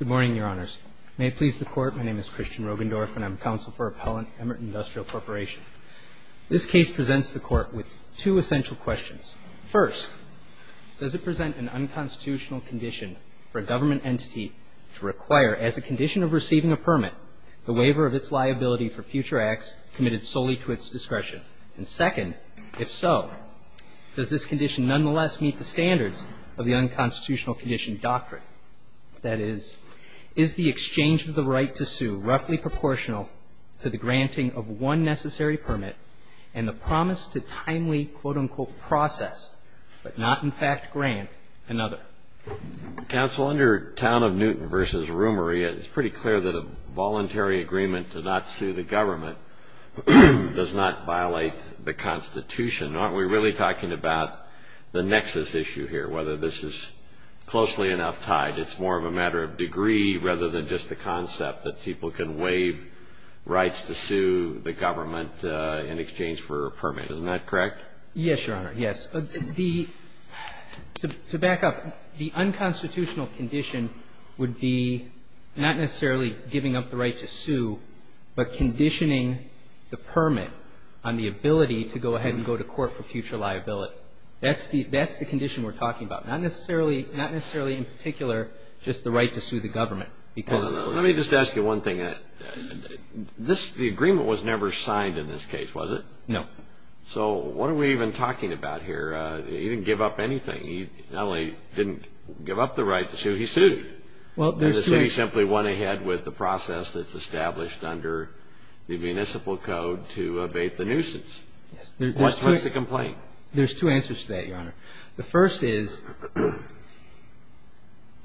Good morning, Your Honors. May it please the Court, my name is Christian Rogendorff and I'm counsel for Appellant Emmert Industrial Corporation. This case presents the Court with two essential questions. First, does it present an unconstitutional condition for a government entity to require, as a condition of receiving a permit, the waiver of its liability for future acts committed solely to its discretion? And second, if so, does this condition nonetheless meet the standards of the unconstitutional condition doctrine? That is, is the exchange of the right to sue roughly proportional to the granting of one necessary permit and the promise to timely, quote-unquote, process, but not, in fact, grant another? Counsel, under Town of Newton v. Rumery, it's pretty clear that a voluntary agreement to not sue the government does not violate the Constitution, nor are we really talking about the nexus issue here, whether this is closely enough tied. It's more of a matter of degree rather than just the concept that people can waive rights to sue the government in exchange for a permit. Isn't that correct? Yes, Your Honor. Yes. The — to back up, the unconstitutional condition would be not necessarily giving up the right to sue, but conditioning the permit on the ability to go ahead and go to court for future liability. That's the condition we're talking about, not necessarily in particular just the right to sue the government, because — Let me just ask you one thing. This — the agreement was never signed in this case, was it? No. So what are we even talking about here? He didn't give up anything. He not only didn't give up the right to sue, he sued. Well, there's two — And the city simply went ahead with the process that's established under the municipal code to abate the nuisance. Yes. What's the complaint? There's two answers to that, Your Honor. The first is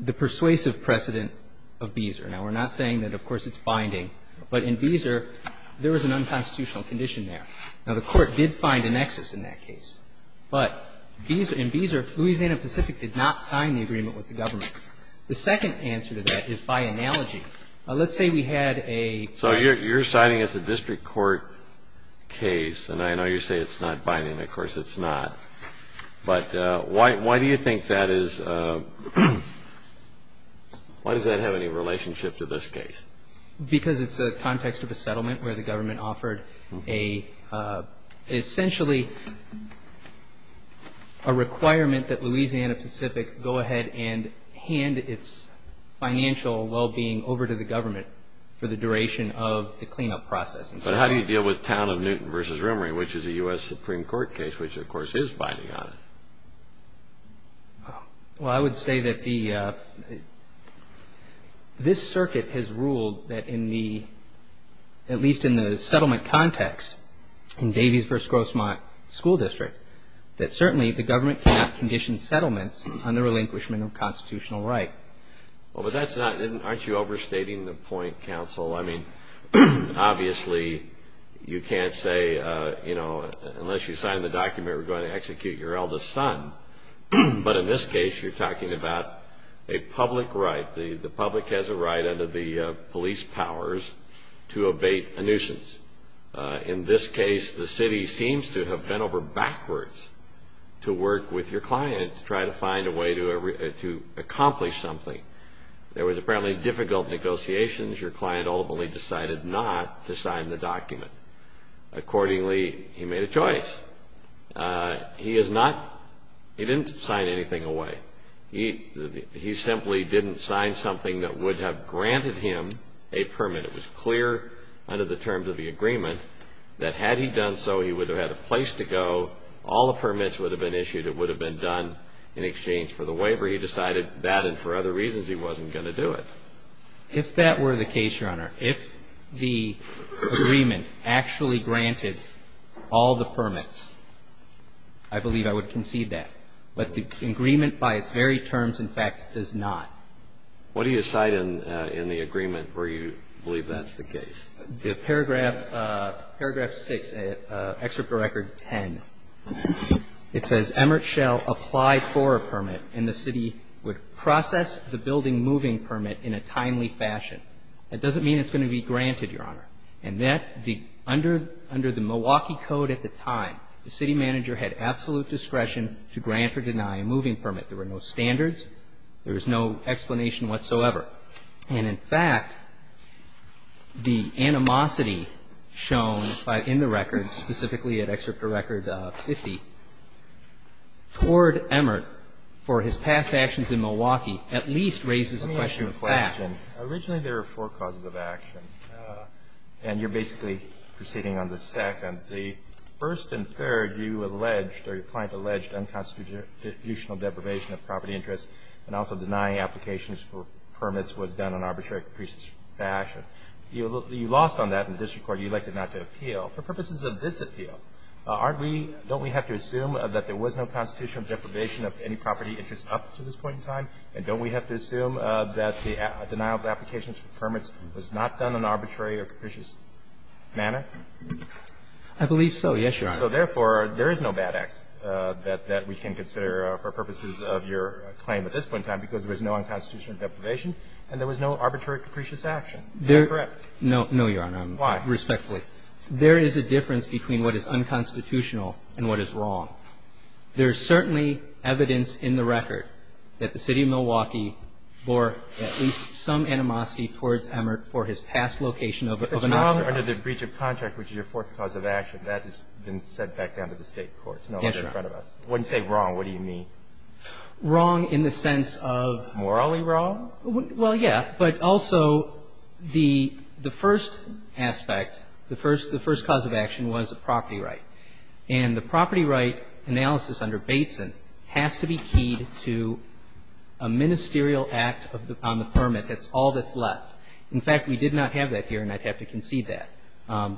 the persuasive precedent of Beezer. Now, we're not saying that, of course, it's binding. But in Beezer, there was an unconstitutional condition there. Now, the Court did find a nexus in that case. But Beezer — in Beezer, Louisiana Pacific did not sign the agreement with the government. The second answer to that is by analogy. Let's say we had a — And I know you say it's not binding. Of course, it's not. But why do you think that is — why does that have any relationship to this case? Because it's a context of a settlement where the government offered a — essentially a requirement that Louisiana Pacific go ahead and hand its financial well-being over to the government for the duration of the cleanup process. But how do you deal with Town of Newton v. Rimmery, which is a U.S. Supreme Court case, which, of course, is binding on it? Well, I would say that the — this circuit has ruled that in the — at least in the settlement context in Davies v. Grossmont School District, that certainly the government cannot condition settlements under relinquishment of constitutional right. Well, but that's not — aren't you overstating the point, counsel? I mean, obviously, you can't say, you know, unless you sign the document, we're going to execute your eldest son. But in this case, you're talking about a public right. The public has a right under the police powers to abate a nuisance. In this case, the city seems to have bent over backwards to work with your client to try to find a way to accomplish something. There was apparently difficult negotiations. Your client ultimately decided not to sign the document. Accordingly, he made a choice. He is not — he didn't sign anything away. He simply didn't sign something that would have granted him a permit. It was clear under the terms of the agreement that had he done so, he would have had a place to go. All the permits would have been issued. It would have been done in exchange for the waiver. He decided that, and for other reasons, he wasn't going to do it. If that were the case, Your Honor, if the agreement actually granted all the permits, I believe I would concede that. But the agreement by its very terms, in fact, does not. What do you cite in the agreement where you believe that's the case? The paragraph — paragraph 6, excerpt of record 10. It says, Emmert Schell applied for a permit, and the city would process the building moving permit in a timely fashion. That doesn't mean it's going to be granted, Your Honor. And that — under the Milwaukee Code at the time, the city manager had absolute discretion to grant or deny a moving permit. There were no standards. There was no explanation whatsoever. And, in fact, the animosity shown in the record, specifically at excerpt of record 50, toward Emmert for his past actions in Milwaukee at least raises a question of fact. Let me ask you a question. Originally, there were four causes of action, and you're basically proceeding on the second. The first and third, you alleged, or your client alleged, unconstitutional deprivation of property interests and also denying applications for permits was done in an arbitrary, capricious fashion. You lost on that in the district court. You elected not to appeal. For purposes of this appeal, aren't we — don't we have to assume that there was no constitutional deprivation of any property interest up to this point in time? And don't we have to assume that the denial of applications for permits was not done in an arbitrary or capricious manner? I believe so. Yes, Your Honor. So, therefore, there is no bad acts that we can consider for purposes of your claim at this point in time because there was no unconstitutional deprivation and there was no arbitrary, capricious action. Is that correct? No, Your Honor. Why? Respectfully. There is a difference between what is unconstitutional and what is wrong. There is certainly evidence in the record that the city of Milwaukee bore at least some animosity towards Emmert for his past location of a — Under the breach of contract, which is your fourth cause of action, that has been sent back down to the State courts. No longer in front of us. Yes, Your Honor. When you say wrong, what do you mean? Wrong in the sense of — Morally wrong? Well, yeah. But also, the first aspect, the first cause of action was a property right. And the property right analysis under Bateson has to be keyed to a ministerial act on the permit. That's all that's left. In fact, we did not have that here, and I'd have to concede that.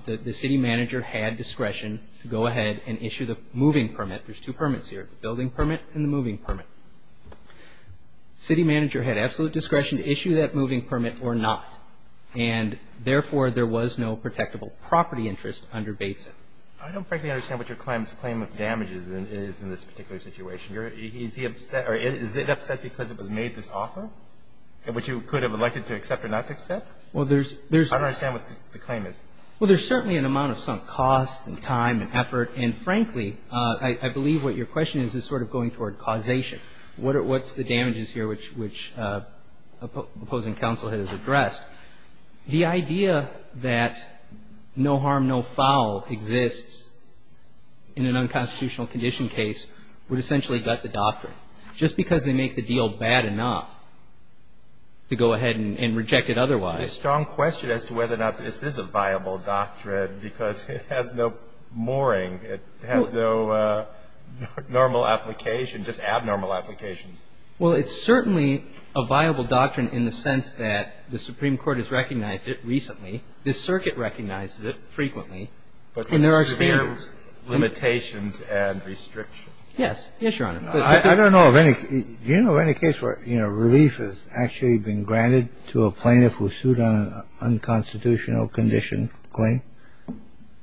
The city manager had discretion to go ahead and issue the moving permit. There's two permits here, the building permit and the moving permit. City manager had absolute discretion to issue that moving permit or not. And therefore, there was no protectable property interest under Bateson. I don't frankly understand what your client's claim of damages is in this particular situation. Is he upset — or is it upset because it was made this offer, which you could have elected to accept or not? Well, there's — I don't understand what the claim is. Well, there's certainly an amount of sunk costs and time and effort. And frankly, I believe what your question is is sort of going toward causation. What's the damages here, which the opposing counsel has addressed? The idea that no harm, no foul exists in an unconstitutional condition case would essentially gut the doctrine. Just because they make the deal bad enough to go ahead and reject it otherwise. There's a strong question as to whether or not this is a viable doctrine because it has no mooring. It has no normal application, just abnormal applications. Well, it's certainly a viable doctrine in the sense that the Supreme Court has recognized it recently. The circuit recognizes it frequently. But there are severe limitations and restrictions. Yes. Yes, Your Honor. I don't know of any — do you know of any case where, you know, relief has actually been granted to a plaintiff who sued on an unconstitutional condition claim?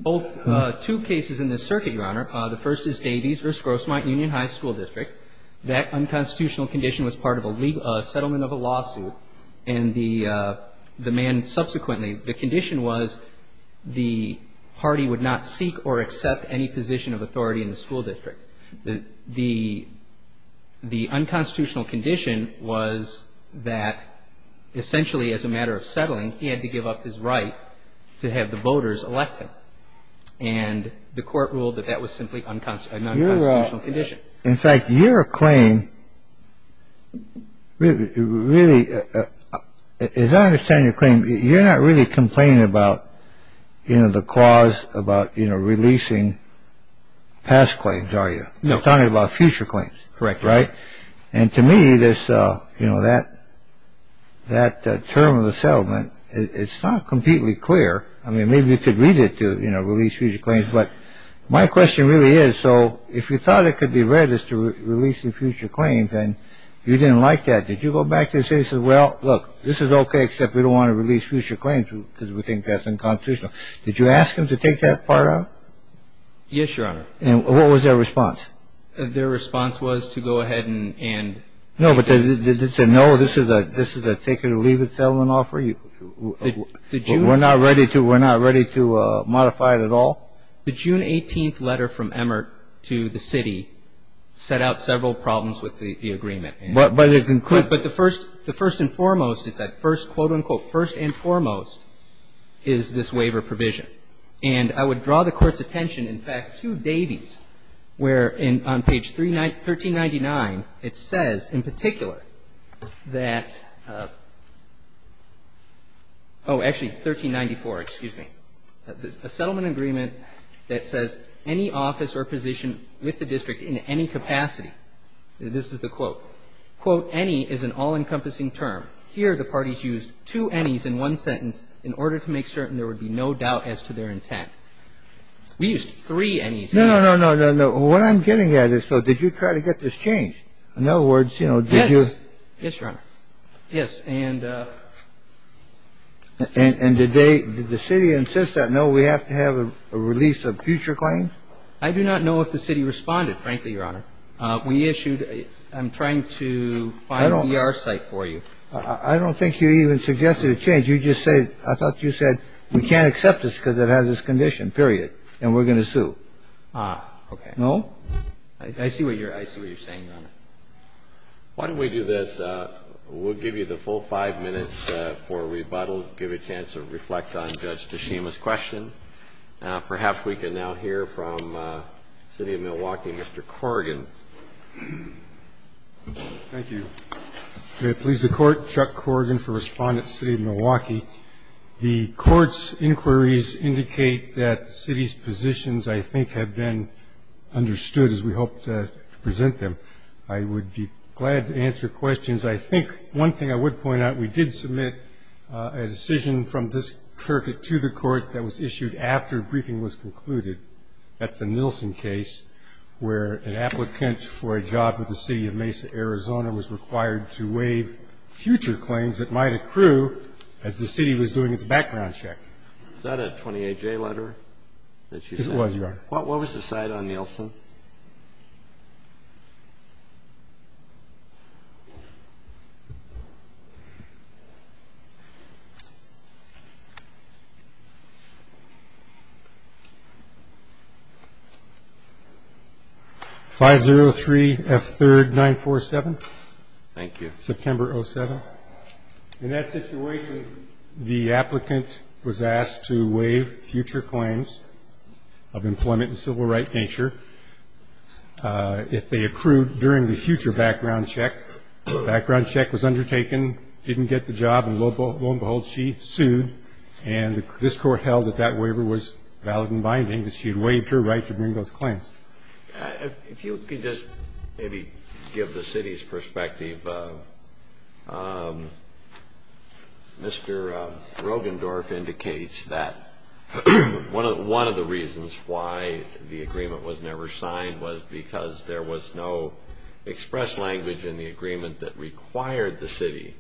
Both — two cases in this circuit, Your Honor. The first is Davies v. Grossmont Union High School District. That unconstitutional condition was part of a settlement of a lawsuit. And the man subsequently — the condition was the party would not seek or accept any position of authority in the school district. The unconstitutional condition was that essentially as a matter of settling, he had to give up his right to have the voters elect him. And the court ruled that that was simply an unconstitutional condition. In fact, your claim really — as I understand your claim, you're not really complaining about, you know, the clause about, you know, releasing past claims, are you? No. You're talking about future claims. Correct. Right? And to me, there's, you know, that — that term of the settlement, it's not completely clear. I mean, maybe you could read it to, you know, release future claims. But my question really is, so if you thought it could be read as to releasing future claims and you didn't like that, did you go back and say, well, look, this is OK, except we don't want to release future claims because we think that's unconstitutional. Did you ask him to take that part out? Yes, Your Honor. And what was their response? Their response was to go ahead and — No, but did they say, no, this is a — this is a take-it-or-leave-it settlement offer? The June — We're not ready to — we're not ready to modify it at all? The June 18th letter from Emmert to the city set out several problems with the agreement. But it includes — But the first — the first and foremost, it's that first, quote, unquote, first and foremost, is this waiver provision. And I would draw the Court's attention, in fact, to Davies, where on page 1399, it says, in particular, that — oh, actually, 1394, excuse me, a settlement agreement that says, any office or position with the district in any capacity, this is the quote, quote, any is an all-encompassing term. Here, the parties used two anys in one sentence in order to make certain there would be no doubt as to their intent. We used three anys. No, no, no, no, no, no. What I'm getting at is, so did you try to get this changed? In other words, you know, did you — Yes, Your Honor. Yes, and — And did they — did the city insist that, no, we have to have a release of future claims? I do not know if the city responded, frankly, Your Honor. We issued — I'm trying to find the ER site for you. I don't think you even suggested a change. You just said — I thought you said, we can't accept this because it has this condition, period, and we're going to sue. Ah, okay. I see what you're — I see what you're saying, Your Honor. Why don't we do this? We'll give you the full five minutes for rebuttal, give a chance to reflect on Judge Tashima's question. Perhaps we can now hear from the City of Milwaukee, Mr. Corrigan. Thank you. May it please the Court, Chuck Corrigan for Respondents, City of Milwaukee. The Court's inquiries indicate that the city's positions, I think, have been understood, as we hope to present them. I would be glad to answer questions. I think one thing I would point out, we did submit a decision from this circuit to the Court that was issued after a briefing was concluded at the Nielsen case, where an applicant for a job with the City of Mesa, Arizona, was required to waive future claims that might accrue as the city was doing its background check. Was that a 28-J letter that you sent? It was, Your Honor. What was the site on Nielsen? Thank you. 503F3R947. Thank you. September 07. In that situation, the applicant was asked to waive future claims of employment in civil rights nature. If they accrued during the future background check, background check was undertaken, didn't get the job, and lo and behold, she sued. And this Court held that that waiver was valid and binding, that she had waived her right to bring those claims. If you could just maybe give the city's perspective. I believe Mr. Rogendorf indicates that one of the reasons why the agreement was never signed was because there was no express language in the agreement that required the city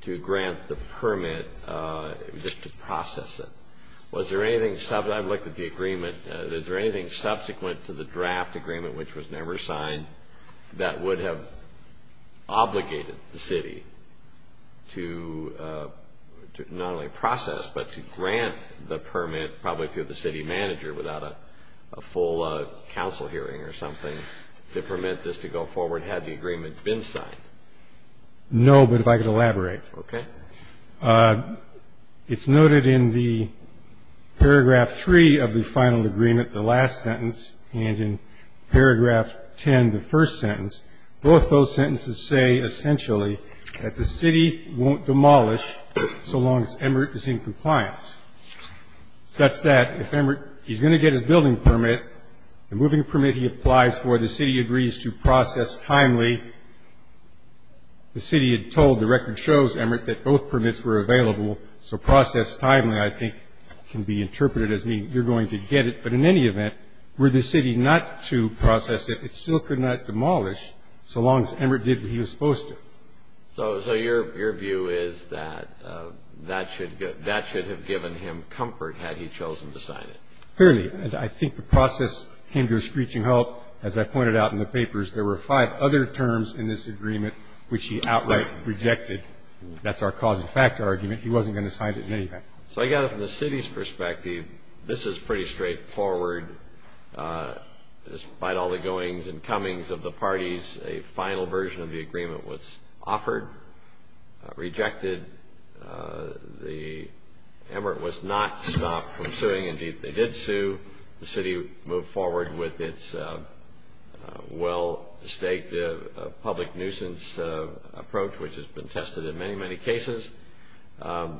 to grant the permit just to process it. Was there anything, I've looked at the agreement, is there anything subsequent to the draft agreement which was never signed that would have obligated the city to not only process but to grant the permit, probably through the city manager without a full council hearing or something, to permit this to go forward had the agreement been signed? No, but if I could elaborate. Okay. It's noted in the paragraph 3 of the final agreement, the last sentence, and in paragraph 10, the first sentence, both those sentences say essentially that the city won't demolish so long as Emert is in compliance, such that if Emert, he's going to get his building permit, the moving permit he applies for, the city agrees to process timely. The city had told, the record shows, Emert, that both permits were available, so process timely I think can be interpreted as meaning you're going to get it, but in any event, were the city not to process it, it still could not demolish so long as Emert did what he was supposed to. So your view is that that should have given him comfort had he chosen to sign it? Clearly. I think the process came to a screeching halt. As I pointed out in the papers, there were five other terms in this agreement which he outright rejected. That's our cause and factor argument. He wasn't going to sign it in any event. So I got it from the city's perspective. This is pretty straightforward. Despite all the goings and comings of the parties, a final version of the agreement was offered, rejected. Emert was not stopped from suing. Indeed, they did sue. The city moved forward with its well-staked public nuisance approach, which has been tested in many, many cases.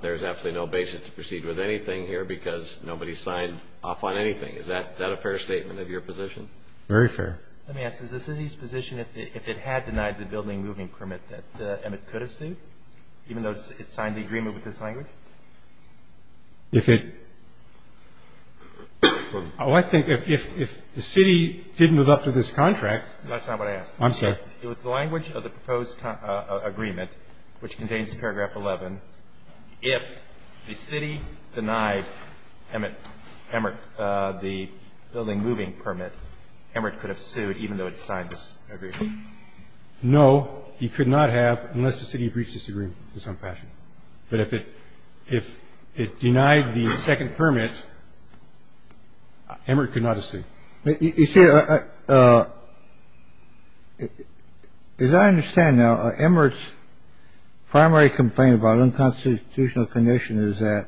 There's absolutely no basis to proceed with anything here because nobody signed off on anything. Is that a fair statement of your position? Very fair. Let me ask. Is the city's position if it had denied the building moving permit that Emert could have sued, even though it signed the agreement with this language? If it – oh, I think if the city didn't live up to this contract – That's not what I asked. I'm sorry. With the language of the proposed agreement, which contains paragraph 11, if the city denied Emert the building moving permit, Emert could have sued even though it signed this agreement. No, he could not have unless the city breached this agreement in some fashion. But if it denied the second permit, Emert could not have sued. You see, as I understand now, Emert's primary complaint about unconstitutional condition is that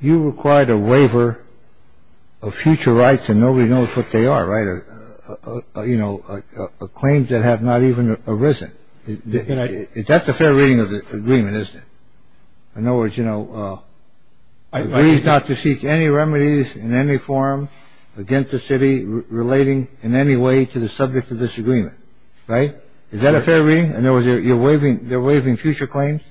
you required a waiver of future rights and nobody knows what they are, right? You know, a claim that has not even arisen. That's a fair reading of the agreement, isn't it? In other words, you know, agrees not to seek any remedies in any form against the city relating in any way to the subject of this agreement, right? Is that a fair reading? In other words, you're waiving – they're waiving future claims?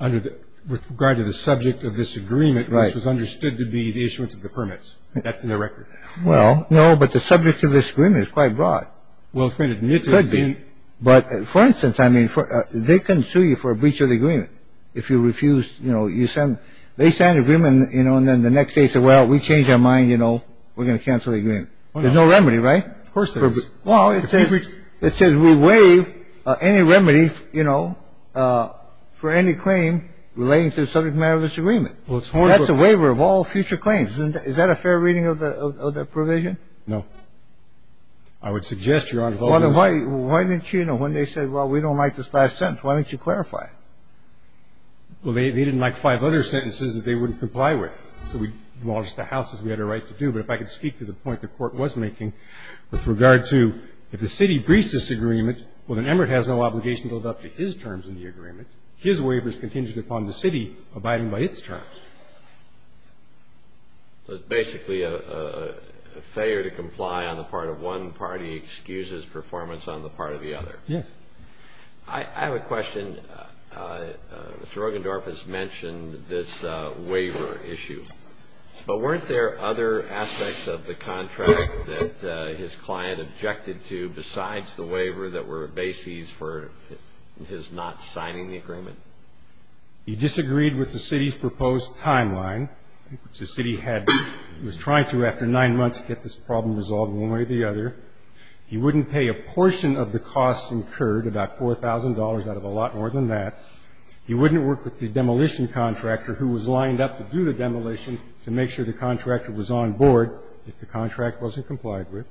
Under the – with regard to the subject of this agreement, which was understood to be the issuance of the permits. That's in the record. Well, no, but the subject of this agreement is quite broad. Well, it's been admitted to be. It could be. But for instance, I mean, they can sue you for a breach of the agreement if you refuse, you know, you send – they sign an agreement, you know, and then the next day say, well, we changed our mind, you know, we're going to cancel the agreement. There's no remedy, right? Of course there is. Well, it says – it says we waive any remedy, you know, for any claim relating to the subject matter of this agreement. Well, it's more of a – That's a waiver of all future claims. Isn't that – is that a fair reading of the provision? No. I would suggest, Your Honor, that – Well, then why didn't you, you know, when they said, well, we don't like this last sentence, why don't you clarify it? Well, they didn't like five other sentences that they wouldn't comply with. So we – well, it's the House's, we had a right to do. But if I could speak to the point the Court was making with regard to if the city breaches this agreement, well, then Emert has no obligation to adopt his terms in the agreement. His waiver is contingent upon the city abiding by its terms. So it's basically a failure to comply on the part of one party excuses performance on the part of the other. Yes. I have a question. Mr. Ruggendorf has mentioned this waiver issue. But weren't there other aspects of the contract that his client objected to besides the waiver that were bases for his not signing the agreement? He disagreed with the city's proposed timeline, which the city had – was trying to after nine months get this problem resolved one way or the other. He wouldn't pay a portion of the costs incurred, about $4,000 out of a lot more than that. He wouldn't work with the demolition contractor who was lined up to do the demolition to make sure the contractor was on board if the contract wasn't complied with.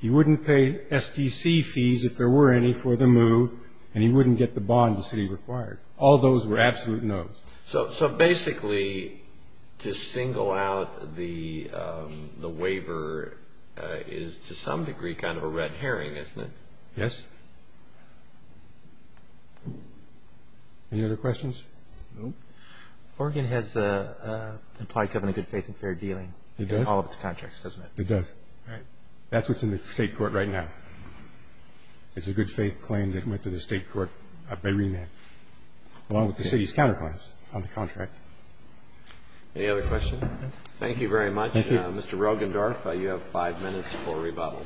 He wouldn't pay SDC fees if there were any for the move. And he wouldn't get the bond the city required. All those were absolute no's. So basically to single out the waiver is to some degree kind of a red herring, isn't it? Yes. Any other questions? No. Oregon has implied to have a good faith and fair dealing in all of its contracts, doesn't it? It does. All right. That's what's in the state court right now. It's a good faith claim that went to the state court by remand, along with the city's counterclaims on the contract. Any other questions? Thank you very much. Thank you. Mr. Rogendorf, you have five minutes for rebuttal.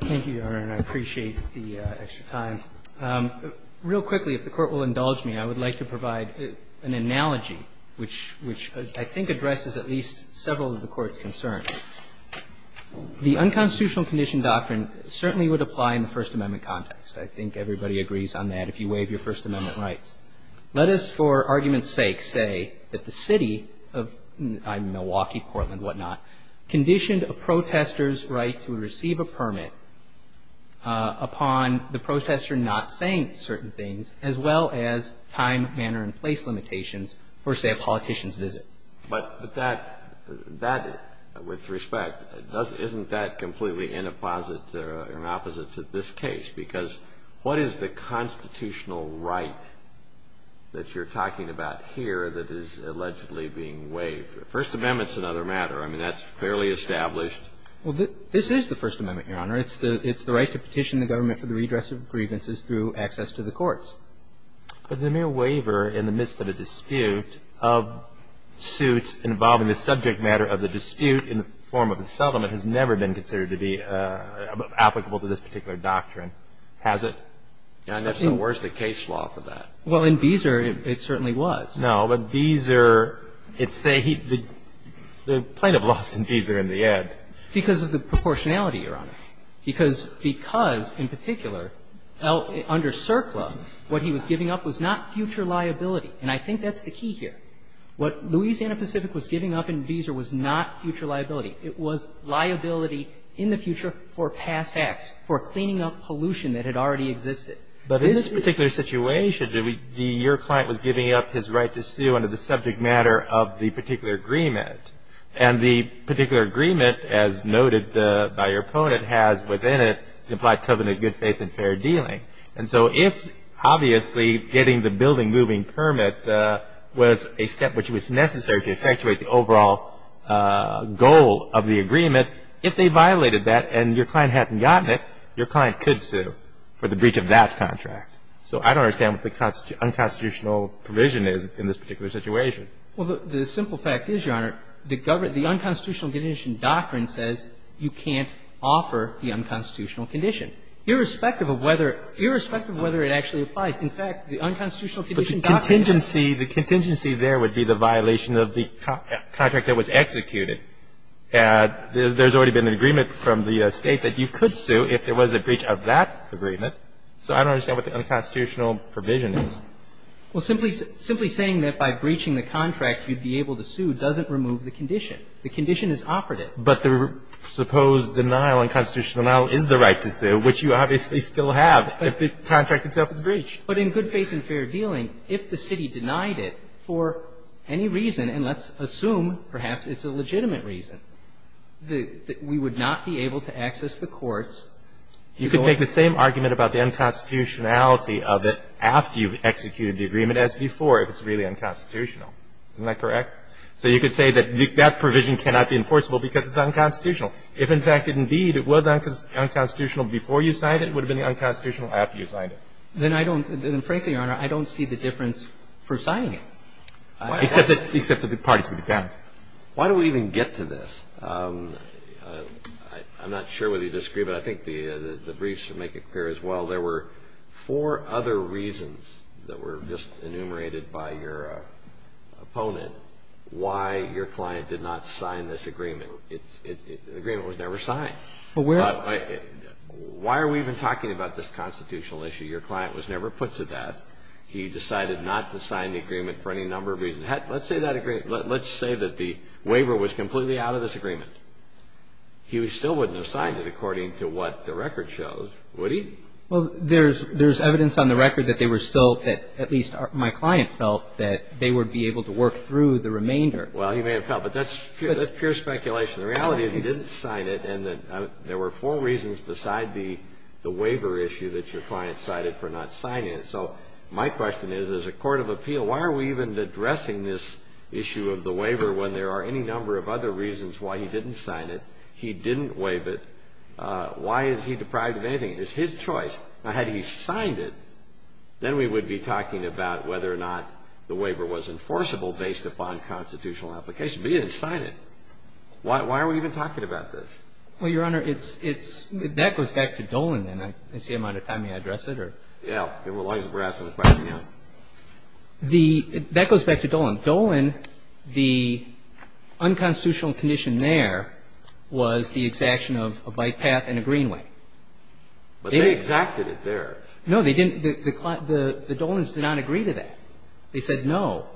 Thank you, Your Honor, and I appreciate the extra time. Real quickly, if the Court will indulge me, I would like to provide an analogy, which I think addresses at least several of the Court's concerns. The unconstitutional condition doctrine certainly would apply in the First Amendment context. I think everybody agrees on that if you waive your First Amendment rights. Let us, for argument's sake, say that the city of Milwaukee, Portland, whatnot, conditioned a protester's right to receive a permit upon the protester not saying certain things, as well as time, manner, and place limitations for, say, a politician's visit. But that, with respect, isn't that completely inopposite to this case? Because what is the constitutional right that you're talking about here that is allegedly being waived? The First Amendment's another matter. I mean, that's fairly established. Well, this is the First Amendment, Your Honor. It's the right to petition the government for the redress of grievances through access to the courts. But the mere waiver in the midst of a dispute of suits involving the subject matter of the dispute in the form of a settlement has never been considered to be applicable to this particular doctrine, has it? And that's the worst-in-case law for that. Well, in Beezer, it certainly was. No, but Beezer, it's a — the plaintiff lost in Beezer in the end. Because of the proportionality, Your Honor. Because in particular, under CERCLA, what he was giving up was not future liability. And I think that's the key here. What Louisiana Pacific was giving up in Beezer was not future liability. It was liability in the future for past acts, for cleaning up pollution that had already existed. But in this particular situation, your client was giving up his right to sue under the subject matter of the particular agreement. And the particular agreement, as noted by your opponent, has within it the implied covenant of good faith and fair dealing. And so if, obviously, getting the building-moving permit was a step which was necessary to effectuate the overall goal of the agreement, if they violated that and your client hadn't gotten it, your client could sue for the breach of that contract. So I don't understand what the unconstitutional provision is in this particular situation. Well, the simple fact is, Your Honor, the unconstitutional condition doctrine says you can't offer the unconstitutional condition. Irrespective of whether it actually applies, in fact, the unconstitutional condition doctrine says you can't. But the contingency there would be the violation of the contract that was executed. There's already been an agreement from the State that you could sue if there was a breach of that agreement. So I don't understand what the unconstitutional provision is. Well, simply saying that by breaching the contract you'd be able to sue doesn't remove the condition. The condition is operative. But the supposed denial, unconstitutional denial, is the right to sue, which you obviously still have if the contract itself is breached. But in good faith and fair dealing, if the city denied it for any reason, and let's assume, perhaps, it's a legitimate reason, that we would not be able to access the courts. You could make the same argument about the unconstitutionality of it after you've executed the agreement as before if it's really unconstitutional. Isn't that correct? So you could say that that provision cannot be enforceable because it's unconstitutional. If, in fact, indeed it was unconstitutional before you signed it, it would have been unconstitutional after you signed it. Then I don't – frankly, Your Honor, I don't see the difference for signing it. Except that the parties would be bound. Why do we even get to this? I'm not sure whether you disagree, but I think the briefs should make it clear as well. There were four other reasons that were just enumerated by your opponent why your client did not sign this agreement. The agreement was never signed. But why are we even talking about this constitutional issue? Your client was never put to death. He decided not to sign the agreement for any number of reasons. Let's say that the waiver was completely out of this agreement. He still wouldn't have signed it according to what the record shows, would he? Well, there's evidence on the record that they were still at least my client felt that they would be able to work through the remainder. Well, he may have felt. But that's pure speculation. The reality is he didn't sign it, and there were four reasons beside the waiver issue that your client cited for not signing it. So my question is, as a court of appeal, why are we even addressing this issue of the waiver when there are any number of other reasons why he didn't sign it, he didn't make a choice? Now, had he signed it, then we would be talking about whether or not the waiver was enforceable based upon constitutional application. But he didn't sign it. Why are we even talking about this? Well, Your Honor, that goes back to Dolan, and I see I'm out of time. May I address it? Yeah. As long as we're asking the question, yeah. That goes back to Dolan. Dolan, the unconstitutional condition there was the exaction of a bypass and a greenway. But they exacted it there. No, they didn't. The Dolans did not agree to that. They said no,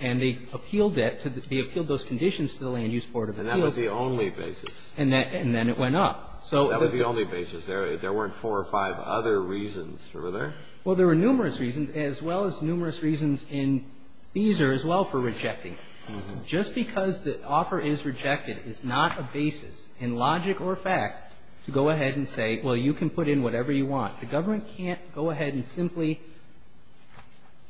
and they appealed that. They appealed those conditions to the Land Use Board of Appeals. And that was the only basis. And then it went up. That was the only basis. There weren't four or five other reasons. Remember that? Well, there were numerous reasons, as well as numerous reasons in Beezer as well for rejecting it. Just because the offer is rejected is not a basis in logic or fact to go ahead and say, well, you can put in whatever you want. The government can't go ahead and simply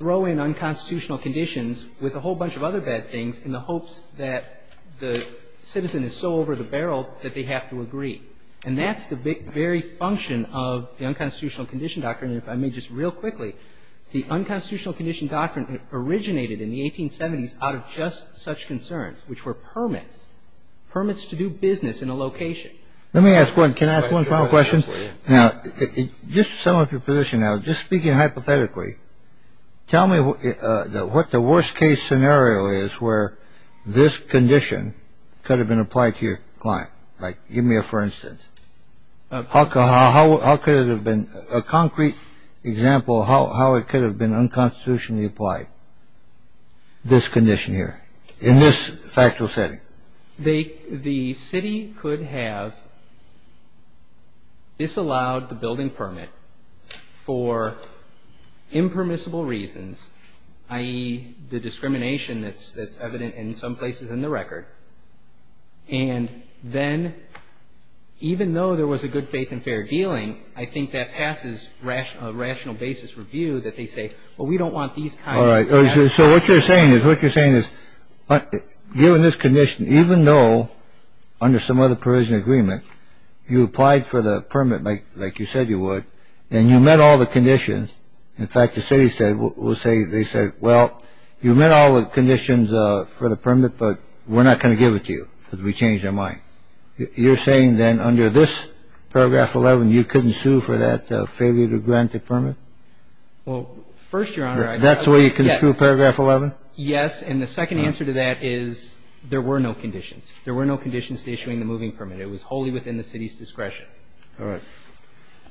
throw in unconstitutional conditions with a whole bunch of other bad things in the hopes that the citizen is so over the barrel that they have to agree. And that's the very function of the unconstitutional condition doctrine. And if I may just real quickly, the unconstitutional condition doctrine originated in the 1870s out of just such concerns, which were permits, permits to do business in a location. Let me ask one. Can I ask one final question? Now, just to sum up your position now, just speaking hypothetically, tell me what the worst case scenario is where this condition could have been applied to your client. Like, give me a for instance. How could it have been a concrete example of how it could have been unconstitutionally applied, this condition here in this factual setting? The city could have disallowed the building permit for impermissible reasons, i.e., the discrimination that's evident in some places in the record. And then even though there was a good faith and fair dealing, I think that passes a rational basis review that they say, well, we don't want these kinds of things. All right. So what you're saying is what you're saying is given this condition, even though under some other provision agreement, you applied for the permit, like you said you would, and you met all the conditions. In fact, the city said they said, well, you met all the conditions for the permit, but we're not going to give it to you because we changed our mind. You're saying then under this paragraph 11, you couldn't sue for that failure to grant the permit? Well, first, Your Honor, I agree. That's where you can sue paragraph 11? Yes. And the second answer to that is there were no conditions. There were no conditions to issuing the moving permit. It was wholly within the city's discretion. All right.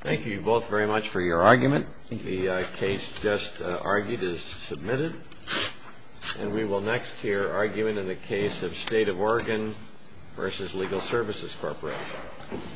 Thank you both very much for your argument. Thank you. The case just argued is submitted. And we will next hear argument in the case of State of Oregon v. Legal Services Corporation. Thank you.